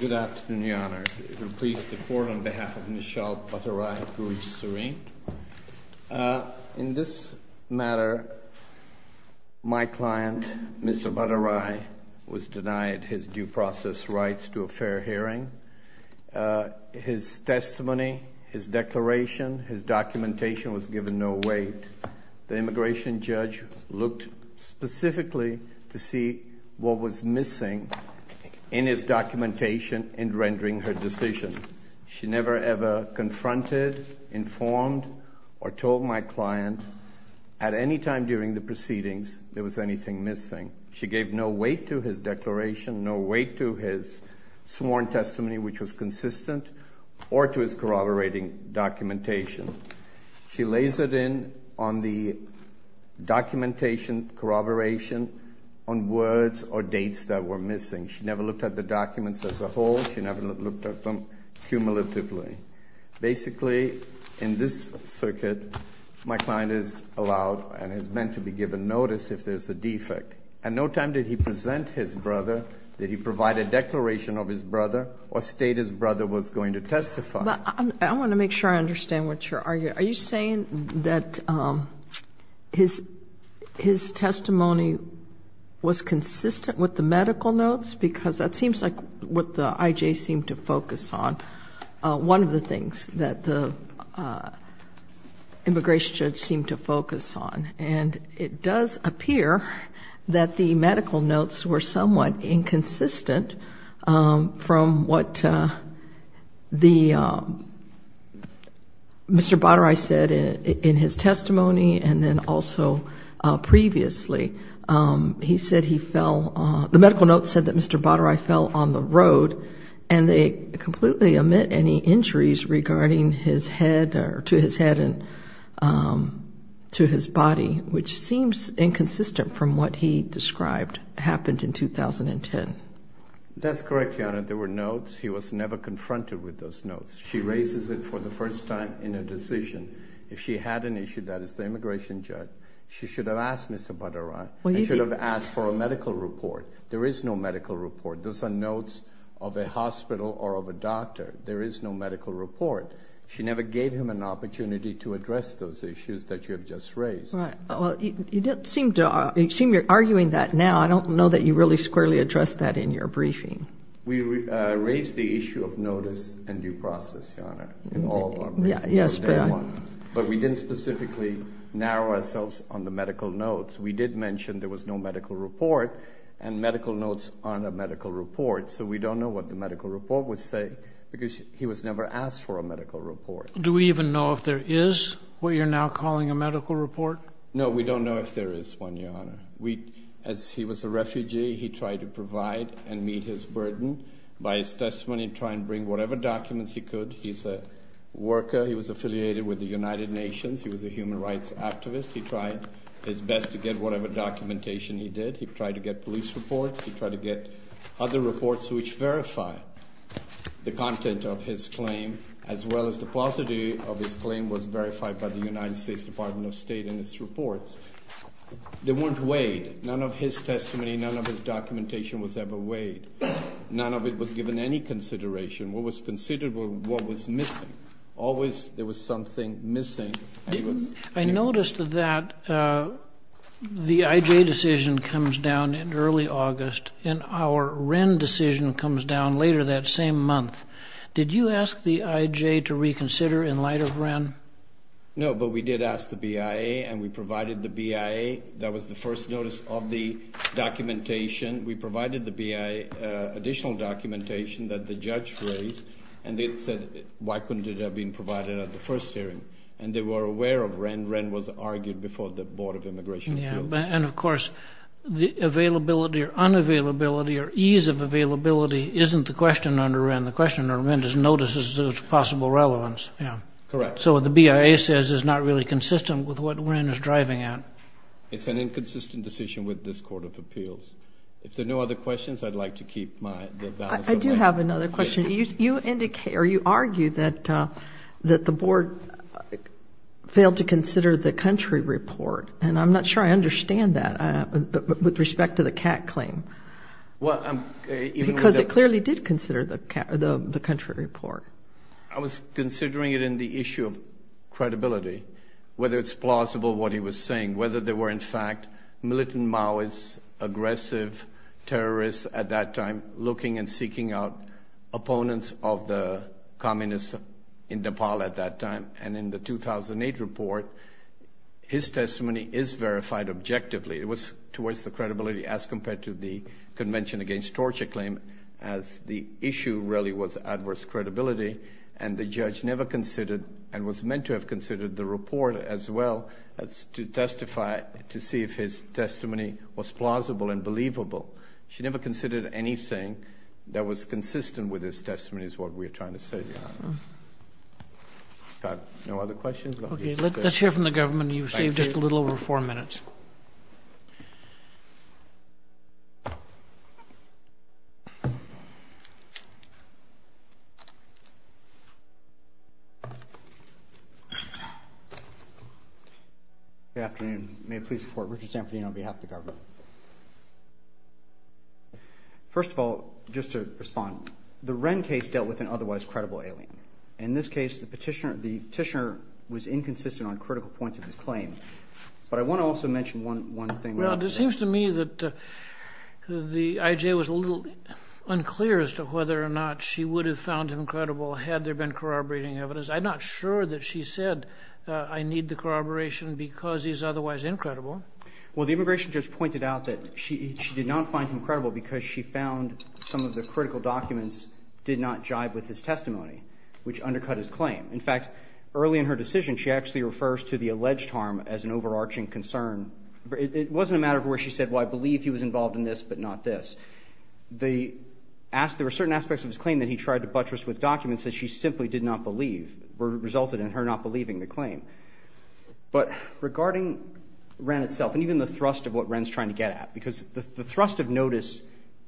Good afternoon, Your Honour. It will please the Court, on behalf of Nishchal Bhattarai, who is serene. In this matter, my client, Mr. Bhattarai, was denied his due process rights to a fair hearing. His testimony, his declaration, his documentation was given no weight. The immigration judge looked specifically to see what was missing in his documentation in rendering her decision. She never, ever confronted, informed, or told my client at any time during the proceedings there was anything missing. She gave no weight to his declaration, no weight to his sworn testimony, which was consistent, or to his corroborating documentation. She lasered in on the documentation corroboration on words or dates that were missing. She never looked at the documents as a whole. She never looked at them cumulatively. Basically, in this circuit, my client is allowed and is meant to be given notice if there's a defect. And no time did he present his brother, did he provide a declaration of his brother, or state his brother was going to testify. I want to make sure I understand what you're arguing. Are you saying that his testimony was consistent with the medical notes? Because that seems like what the IJ seemed to focus on, one of the things that the immigration judge seemed to focus on. And it does appear that the medical notes were somewhat inconsistent from what the, Mr. Baderai said in his testimony and then also previously. He said he fell, the medical notes said that Mr. Baderai fell on the road and they completely omit any injuries regarding his head, or to his head and to his body, which seems inconsistent from what he described happened in 2010. That's correct, Your Honor. There were notes. He was never confronted with those notes. She raises it for the first time in a decision. If she had an issue, that is the immigration judge, she should have asked Mr. Baderai and should have asked for a medical report. There is no medical report. Those are notes of a hospital or of a doctor. There is no medical report. She never gave him an opportunity to address those issues that you have just raised. Well, you don't seem to, you seem to be arguing that now. I don't know that you really squarely addressed that in your briefing. We raised the issue of notice and due process, Your Honor, in all of our briefings from day one. But we didn't specifically narrow ourselves on the medical notes. We did mention there was no medical report and medical notes on a medical report. So we don't know what the medical report would say because he was never asked for a medical report. Do we even know if there is what you're now calling a medical report? No, we don't know if there is one, Your Honor. As he was a refugee, he tried to provide and meet his burden by his testimony and try and bring whatever documents he could. He's a worker. He was affiliated with the United Nations. He was a human rights activist. He tried his best to get whatever documentation he did. He tried to get police reports. He tried to get other reports which verify the content of his claim, as well as the positive of his claim was verified by the United States Department of State in its reports. They weren't weighed. None of his testimony, none of his documentation was ever weighed. None of it was given any consideration. What was considered was what was missing. Always there was something missing. I noticed that the IJ decision comes down in early August, and our Wren decision comes down later that same month. Did you ask the IJ to reconsider in light of Wren? No, but we did ask the BIA, and we provided the BIA. That was the first notice of the documentation. We provided the BIA additional documentation that the judge raised, and they said, why couldn't it have been provided at the first hearing? And they were aware of Wren. Wren was argued before the Board of Immigration Appeals. And, of course, the availability or unavailability or ease of availability isn't the question under Wren. The question under Wren is notices of possible relevance. Correct. So what the BIA says is not really consistent with what Wren is driving at. It's an inconsistent decision with this Court of Appeals. If there are no other questions, I'd like to keep my balance of records. I do have another question. You argue that the country report, and I'm not sure I understand that with respect to the CAT claim, because it clearly did consider the country report. I was considering it in the issue of credibility, whether it's plausible what he was saying, whether there were, in fact, militant Maoist aggressive terrorists at that time looking and seeking out opponents of the communists in Nepal at that time. And in the 2008 report, his testimony is verified objectively. It was towards the credibility as compared to the Convention Against Torture claim, as the issue really was adverse credibility. And the judge never considered and was meant to have considered the report as well as to testify to see if his testimony was plausible and believable. She never considered anything that was consistent with his testimony is what we're trying to say, Your Honor. Got no other questions? Okay. Let's hear from the government. You've saved just a little over four minutes. Good afternoon. May it please the Court. Richard Sanfordine on behalf of the government. First of all, just to respond, the Wren case dealt with an otherwise credible alien. In this case, the petitioner was inconsistent on critical points of his claim. But I want to also mention one thing. Well, it seems to me that the IJ was a little unclear as to whether or not she would have found him credible had there been corroborating evidence. I'm not sure that she said, I need the corroboration because he's otherwise incredible. Well, the immigration judge pointed out that she did not find him credible because she found some of the critical documents did not jive with his testimony, which undercut his claim. In fact, early in her decision, she actually refers to the alleged harm as an overarching concern. It wasn't a matter of where she said, well, I believe he was involved in this, but not this. There were certain aspects of his claim that he tried to buttress with documents that she simply did not believe resulted in her not believing the claim. But regarding Wren itself, and even the thrust of what Wren's trying to get at, because the thrust of notice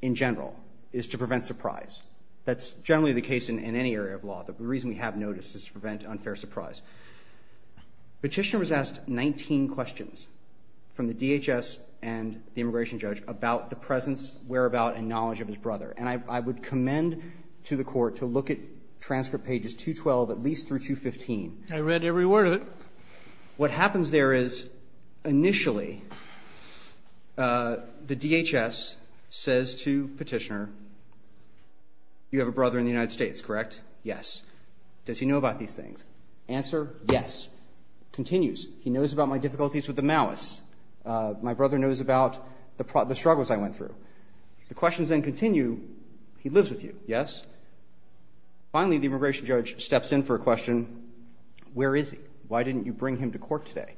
in general is to prevent surprise. That's generally the case in any area of law. The reason we have notice is to prevent unfair surprise. Petitioner was asked 19 questions from the DHS and the immigration judge about the presence, whereabout, and knowledge of his brother. And I would add to every word of it, what happens there is, initially, the DHS says to Petitioner, you have a brother in the United States, correct? Yes. Does he know about these things? Answer, yes. Continues, he knows about my difficulties with the Maoists. My brother knows about the struggles I went through. The questions then continue, he lives with you, yes? Finally, the immigration judge steps in for a question, where is he? Why didn't you bring him to court today?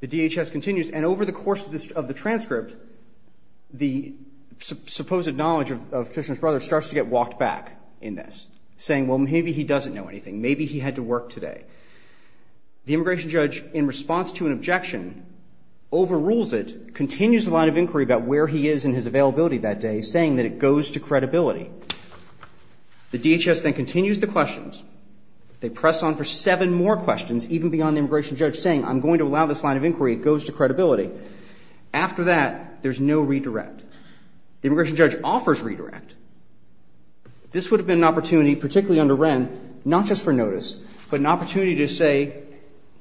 The DHS continues, and over the course of the transcript, the supposed knowledge of Petitioner's brother starts to get walked back in this, saying, well, maybe he doesn't know anything. Maybe he had to work today. The immigration judge, in response to an objection, overrules it, continues the line of inquiry about where he is in his availability that day, saying that it goes to credibility. The DHS then continues the questions. They press on for seven more questions, even beyond the immigration judge saying, I'm going to allow this line of inquiry, it goes to credibility. After that, there's no redirect. The immigration judge offers redirect. This would have been an opportunity, particularly under Wren, not just for notice, but an opportunity to say,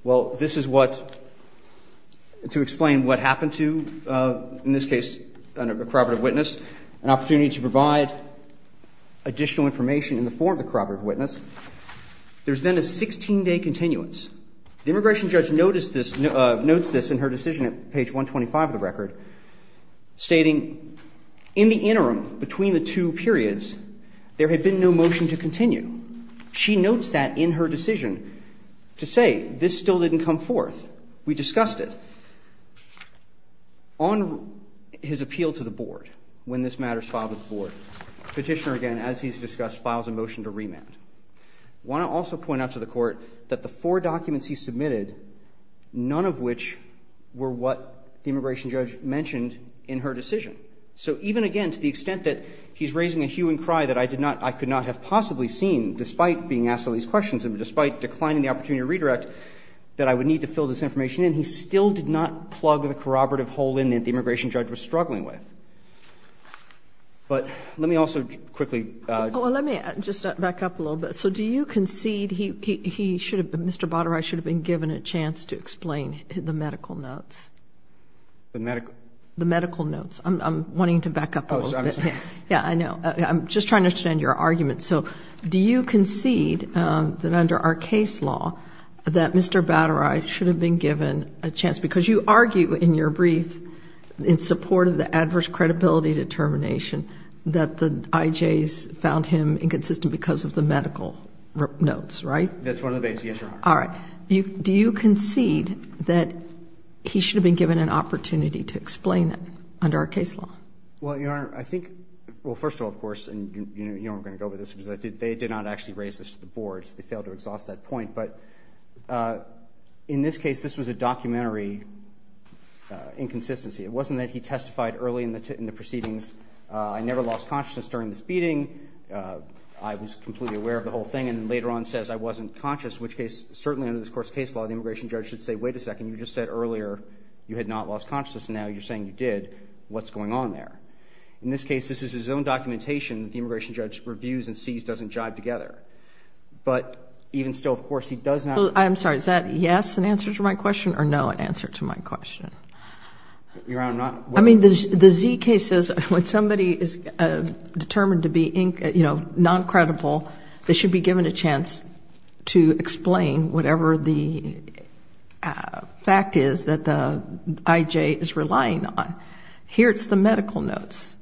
well, this is what, to explain what happened to, in this case, a corroborative witness, and an opportunity to provide additional information in the form of the corroborative witness. There's then a 16-day continuance. The immigration judge noticed this, notes this in her decision at page 125 of the record, stating, in the interim, between the two periods, there had been no motion to continue. She notes that in her decision to say, this still didn't come forth. We discussed it. On his appeal to the board, when this matter is filed to the board, Petitioner again, as he's discussed, files a motion to remand. I want to also point out to the Court that the four documents he submitted, none of which were what the immigration judge mentioned in her decision. So even again, to the extent that he's raising a hue and cry that I did not, I could not have possibly seen, despite being asked all these questions and despite declining the opportunity to redirect, that I would not need to fill this information in. He still did not plug the corroborative hole in that the immigration judge was struggling with. But let me also quickly. Kagan. Well, let me just back up a little bit. So do you concede he should have been, Mr. Baderai should have been given a chance to explain the medical notes? The medical? The medical notes. I'm wanting to back up a little bit. Oh, I'm sorry. Yeah, I know. I'm just trying to understand your argument. So do you concede that under our case law that Mr. Baderai should have been given a chance, because you argue in your brief in support of the adverse credibility determination that the IJs found him inconsistent because of the medical notes, right? That's one of the basic issues. All right. Do you concede that he should have been given an opportunity to explain that under our case law? Well, Your Honor, I think, well, first of all, of course, and you know I'm going to go with this, they did not actually raise this to the boards. They failed to exhaust that point. But in this case, this was a documentary inconsistency. It wasn't that he testified early in the proceedings, I never lost consciousness during this beating. I was completely aware of the whole thing. And then later on says I wasn't conscious, which case, certainly under this court's case law, the immigration judge should say, wait a second, you just said earlier you had not lost consciousness. Now you're saying you did. What's going on there? In this case, this is his own documentation that the immigration judge reviews and sees doesn't jive together. But even still, of course, he does not. I'm sorry. Is that yes, an answer to my question, or no, an answer to my question? Your Honor, I'm not. I mean, the Z case says when somebody is determined to be, you know, noncredible, they should be given a chance to explain whatever the fact is that the IJ is relying on. Here it's the medical notes.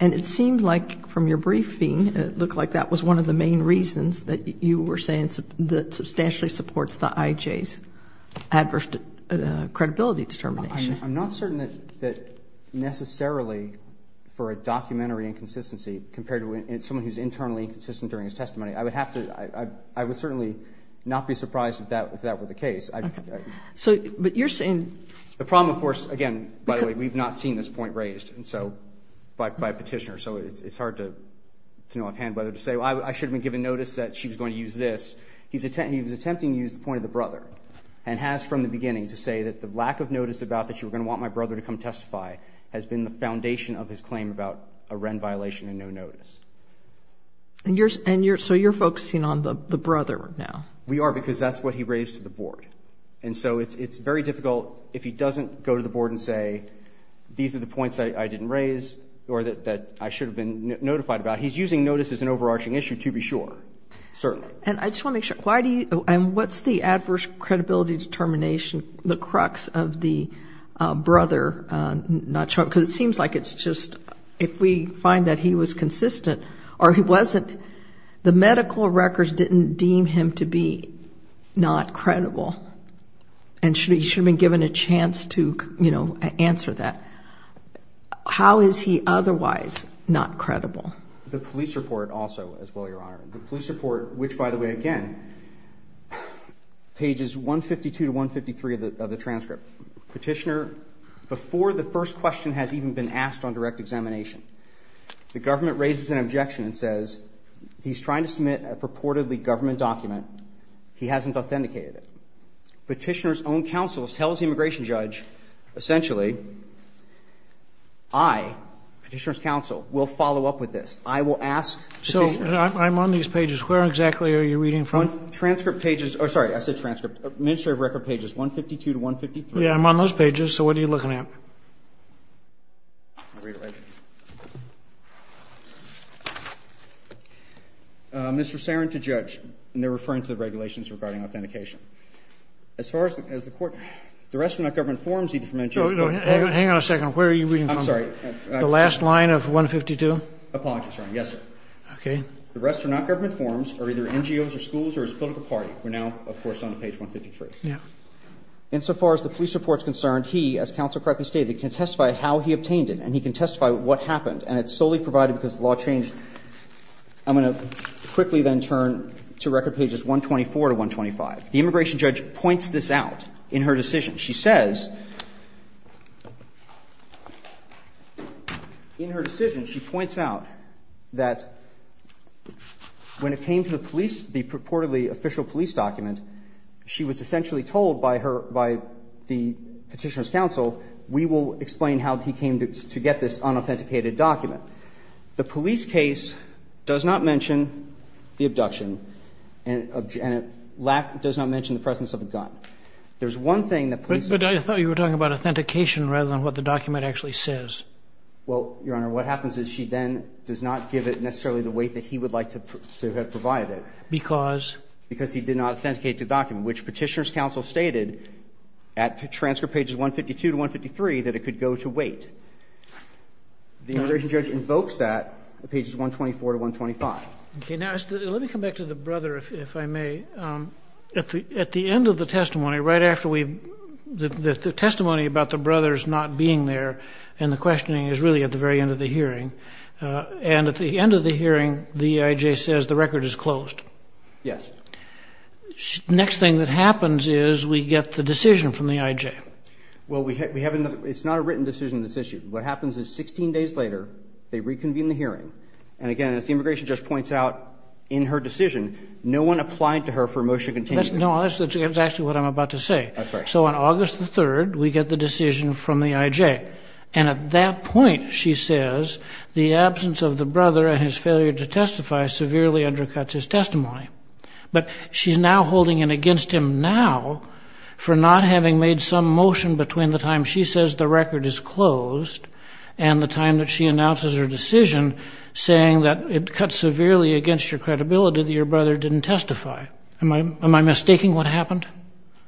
And it seemed like from your briefing, it looked like that was one of the main reasons that you were saying that substantially supports the IJ's adverse credibility determination. I'm not certain that necessarily for a documentary inconsistency compared to someone who's internally inconsistent during his testimony, I would have to, I would certainly not be surprised if that were the case. Okay. So, but you're saying The problem, of course, again, by the way, we've not seen this point raised. And so, by petitioner, so it's hard to know offhand whether to say, well, I should have been given notice that she was going to use this. He was attempting to use the point of the brother and has from the beginning to say that the lack of notice about that you were going to want my brother to come testify has been the foundation of his claim about a Wren violation and no notice. And so you're focusing on the brother now? We are, because that's what he raised to the board. And so it's very difficult if he doesn't go to the board and say, these are the points that I didn't raise or that I should have been notified about. He's using notice as an overarching issue to be sure, certainly. And I just want to make sure, why do you, and what's the adverse credibility determination, the crux of the brother not showing, because it seems like it's just if we find that he was consistent or he wasn't, the medical records didn't deem him to be not credible. And he should have been given a chance to answer that. How is he otherwise not credible? The police report also, as well, Your Honor. The police report, which, by the way, again, pages 152 to 153 of the transcript. Petitioner, before the first question has even been asked on direct examination, the government raises an objection and says he's trying to submit a purportedly government document. He hasn't authenticated it. Petitioner's own counsel tells the immigration judge, essentially, I, Petitioner's counsel, will follow up with this. I will ask Petitioner. So I'm on these pages. Where exactly are you reading from? Transcript pages. Sorry, I said transcript. Administrative record pages, 152 to 153. Yeah, I'm on those pages. So what are you looking at? Mr. Saron, to judge. And they're referring to the regulations regarding authentication. As far as the court, the rest are not government forms. Hang on a second. Where are you reading from? I'm sorry. The last line of 152? Apologies, Your Honor. Yes, sir. Okay. The rest are not government forms or either NGOs or schools or his political party. We're now, of course, on page 153. Yeah. In so far as the police report is concerned, he, as counsel correctly stated, can testify how he obtained it. And he can testify what happened. And it's solely provided because the law changed. I'm going to quickly then turn to record pages 124 to 125. The immigration judge points this out in her decision. She says, in her decision, she points out that when it came to the police, the purportedly official police document, she was essentially told by her, by the Petitioner's counsel, we will explain how he came to get this unauthenticated document. The police case does not mention the abduction, and it does not mention the presence of a gun. There's one thing that police. But I thought you were talking about authentication rather than what the document actually says. Well, Your Honor, what happens is she then does not give it necessarily the weight that he would like to have provided. Because? Because he did not authenticate the document, which Petitioner's counsel stated at transfer pages 152 to 153 that it could go to weight. The immigration judge invokes that at pages 124 to 125. Okay. Now, let me come back to the brother, if I may. At the end of the testimony, right after we've the testimony about the brothers the hearing, the I.J. says the record is closed. Yes. Next thing that happens is we get the decision from the I.J. Well, we have another. It's not a written decision on this issue. What happens is 16 days later, they reconvene the hearing. And again, as the immigration judge points out in her decision, no one applied to her for a motion to continue. No, that's actually what I'm about to say. That's right. So on August the 3rd, we get the decision from the I.J. And at that point, she says the absence of the brother and his failure to testify severely undercuts his testimony. But she's now holding it against him now for not having made some motion between the time she says the record is closed and the time that she announces her decision saying that it cuts severely against your credibility that your brother didn't testify. Am I mistaking what happened?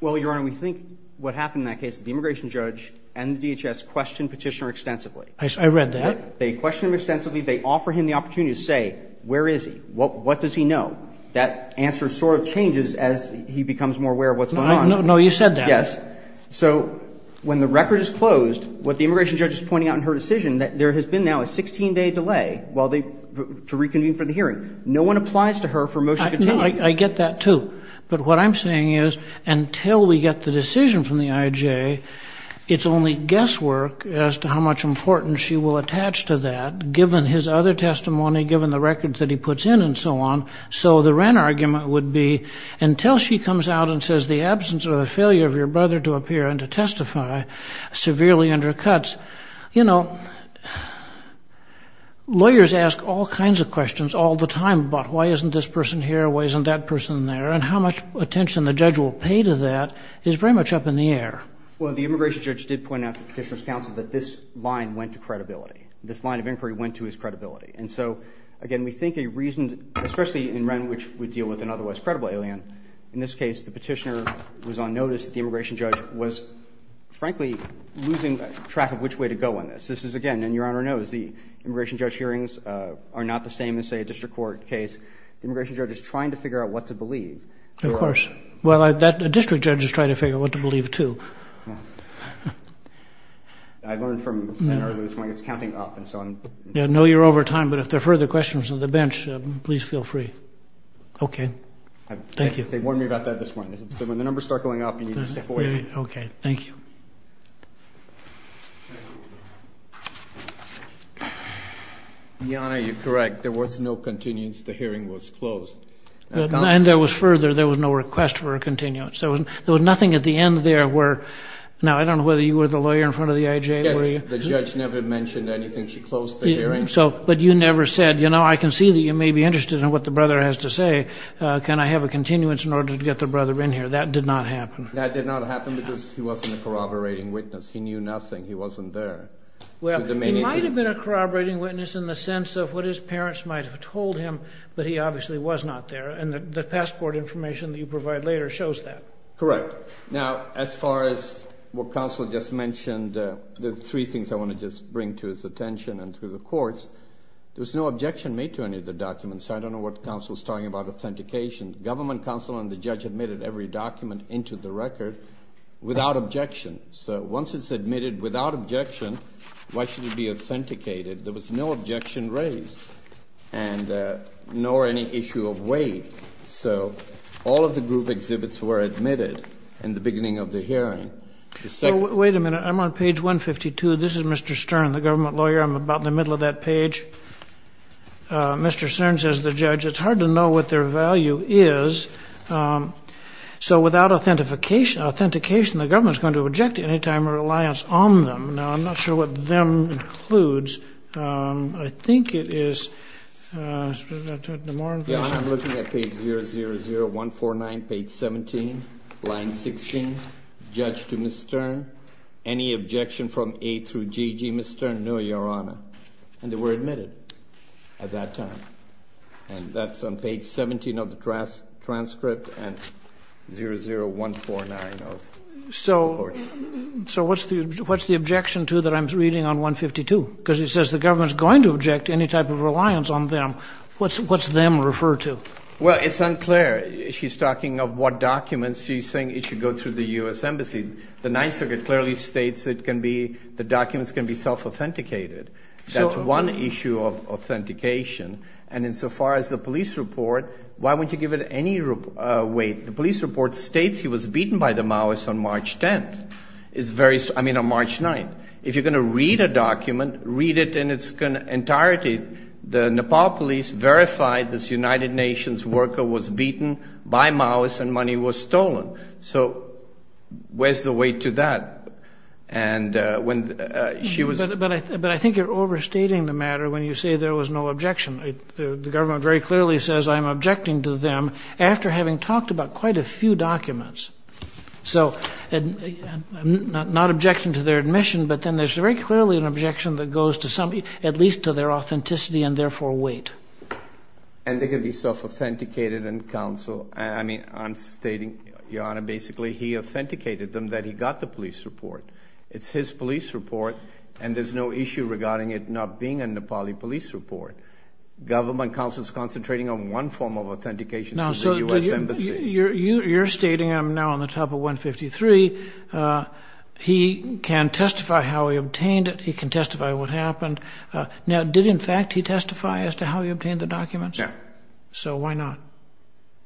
Well, Your Honor, we think what happened in that case is the immigration judge and the DHS questioned Petitioner extensively. I read that. They questioned him extensively. They offer him the opportunity to say, where is he? What does he know? That answer sort of changes as he becomes more aware of what's going on. No, you said that. Yes. So when the record is closed, what the immigration judge is pointing out in her decision, there has been now a 16-day delay to reconvene for the hearing. No one applies to her for a motion to continue. I get that, too. But what I'm saying is until we get the decision from the IJ, it's only guesswork as to how much importance she will attach to that, given his other testimony, given the records that he puts in and so on. So the Wren argument would be until she comes out and says the absence or the failure of your brother to appear and to testify severely undercuts. You know, lawyers ask all kinds of questions all the time about why isn't this person here, why isn't that person there, and how much attention the judge will pay to that is pretty much up in the air. Well, the immigration judge did point out to Petitioner's counsel that this line went to credibility. This line of inquiry went to his credibility. And so, again, we think a reason, especially in Wren, which would deal with an otherwise credible alien, in this case the Petitioner was on notice that the immigration judge was, frankly, losing track of which way to go on this. This is, again, and Your Honor knows, the immigration judge hearings are not the same as, say, a district court case. The immigration judge is trying to figure out what to believe. Of course. Well, a district judge is trying to figure out what to believe, too. I learned from Anne Arnold this morning it's counting up and so on. I know you're over time, but if there are further questions on the bench, please feel free. Okay. Thank you. They warned me about that this morning. So when the numbers start going up, you need to step away. Okay. Thank you. Your Honor, you're correct. There was no continuance. The hearing was closed. And there was further, there was no request for a continuance. There was nothing at the end there where, now, I don't know whether you were the lawyer in front of the IJ. Yes. The judge never mentioned anything. She closed the hearing. But you never said, you know, I can see that you may be interested in what the brother has to say. Can I have a continuance in order to get the brother in here? That did not happen. That did not happen because he wasn't a corroborating witness. He knew nothing. He wasn't there. Well, he might have been a corroborating witness in the sense of what his parents might have told him. But he obviously was not there. And the passport information that you provide later shows that. Correct. Now, as far as what counsel just mentioned, the three things I want to just bring to his attention and to the courts, there was no objection made to any of the documents. So I don't know what counsel is talking about authentication. Government counsel and the judge admitted every document into the record without objection. So once it's admitted without objection, why should it be authenticated? There was no objection raised and nor any issue of weight. So all of the group exhibits were admitted in the beginning of the hearing. Wait a minute. I'm on page 152. This is Mr. Stern, the government lawyer. I'm about in the middle of that page. Mr. Stern says, the judge, it's hard to know what their value is. So without authentication, the government is going to object any time or reliance on them. Now, I'm not sure what them includes. I think it is the more information. I'm looking at page 000149, page 17, line 16. Judge to Mr. Stern. Any objection from A through GG, Mr. Stern? No, Your Honor. And they were admitted at that time. And that's on page 17 of the transcript and 00149 of the report. So what's the objection to that I'm reading on 152? Because it says the government is going to object any type of reliance on them. What's them referred to? Well, it's unclear. She's talking of what documents. She's saying it should go through the U.S. Embassy. The Ninth Circuit clearly states the documents can be self-authenticated. That's one issue of authentication. And insofar as the police report, why wouldn't you give it any weight? The police report states he was beaten by the Maoists on March 10th. I mean, on March 9th. If you're going to read a document, read it in its entirety. The Nepal police verified this United Nations worker was beaten by Maoists and money was stolen. So where's the weight to that? But I think you're overstating the matter when you say there was no objection. The government very clearly says I'm objecting to them after having talked about quite a few documents. So I'm not objecting to their admission, but then there's very clearly an objection that goes at least to their authenticity and therefore weight. And they can be self-authenticated in counsel. I mean, I'm stating, Your Honor, basically he authenticated them that he got the police report. It's his police report, and there's no issue regarding it not being a Nepali police report. Government counsel is concentrating on one form of authentication through the U.S. Embassy. Now, so you're stating I'm now on the top of 153. He can testify how he obtained it. He can testify what happened. Now, did, in fact, he testify as to how he obtained the documents? No. So why not?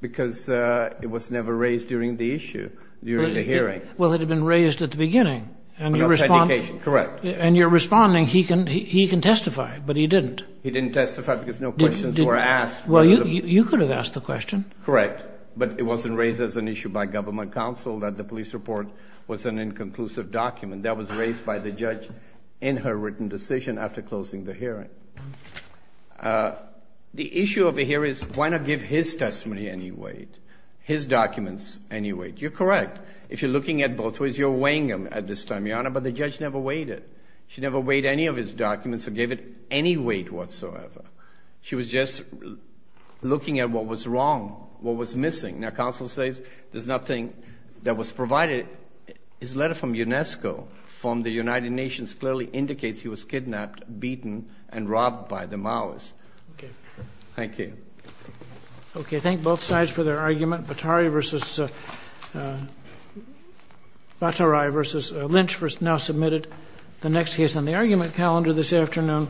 Because it was never raised during the issue, during the hearing. Well, it had been raised at the beginning. Authentication, correct. And you're responding he can testify, but he didn't. He didn't testify because no questions were asked. Well, you could have asked the question. Correct. But it wasn't raised as an issue by government counsel that the police report was an inconclusive document. That was raised by the judge in her written decision after closing the hearing. The issue over here is why not give his testimony any weight, his documents any weight? You're correct. If you're looking at both ways, you're weighing them at this time, Your Honor, but the judge never weighed it. She also gave it any weight whatsoever. She was just looking at what was wrong, what was missing. Now, counsel says there's nothing that was provided. His letter from UNESCO from the United Nations clearly indicates he was kidnapped, beaten, and robbed by the Maoists. Okay. Thank you. Okay. Thank both sides for their argument. Batari versus Lynch was now submitted. The next case on the argument calendar this afternoon.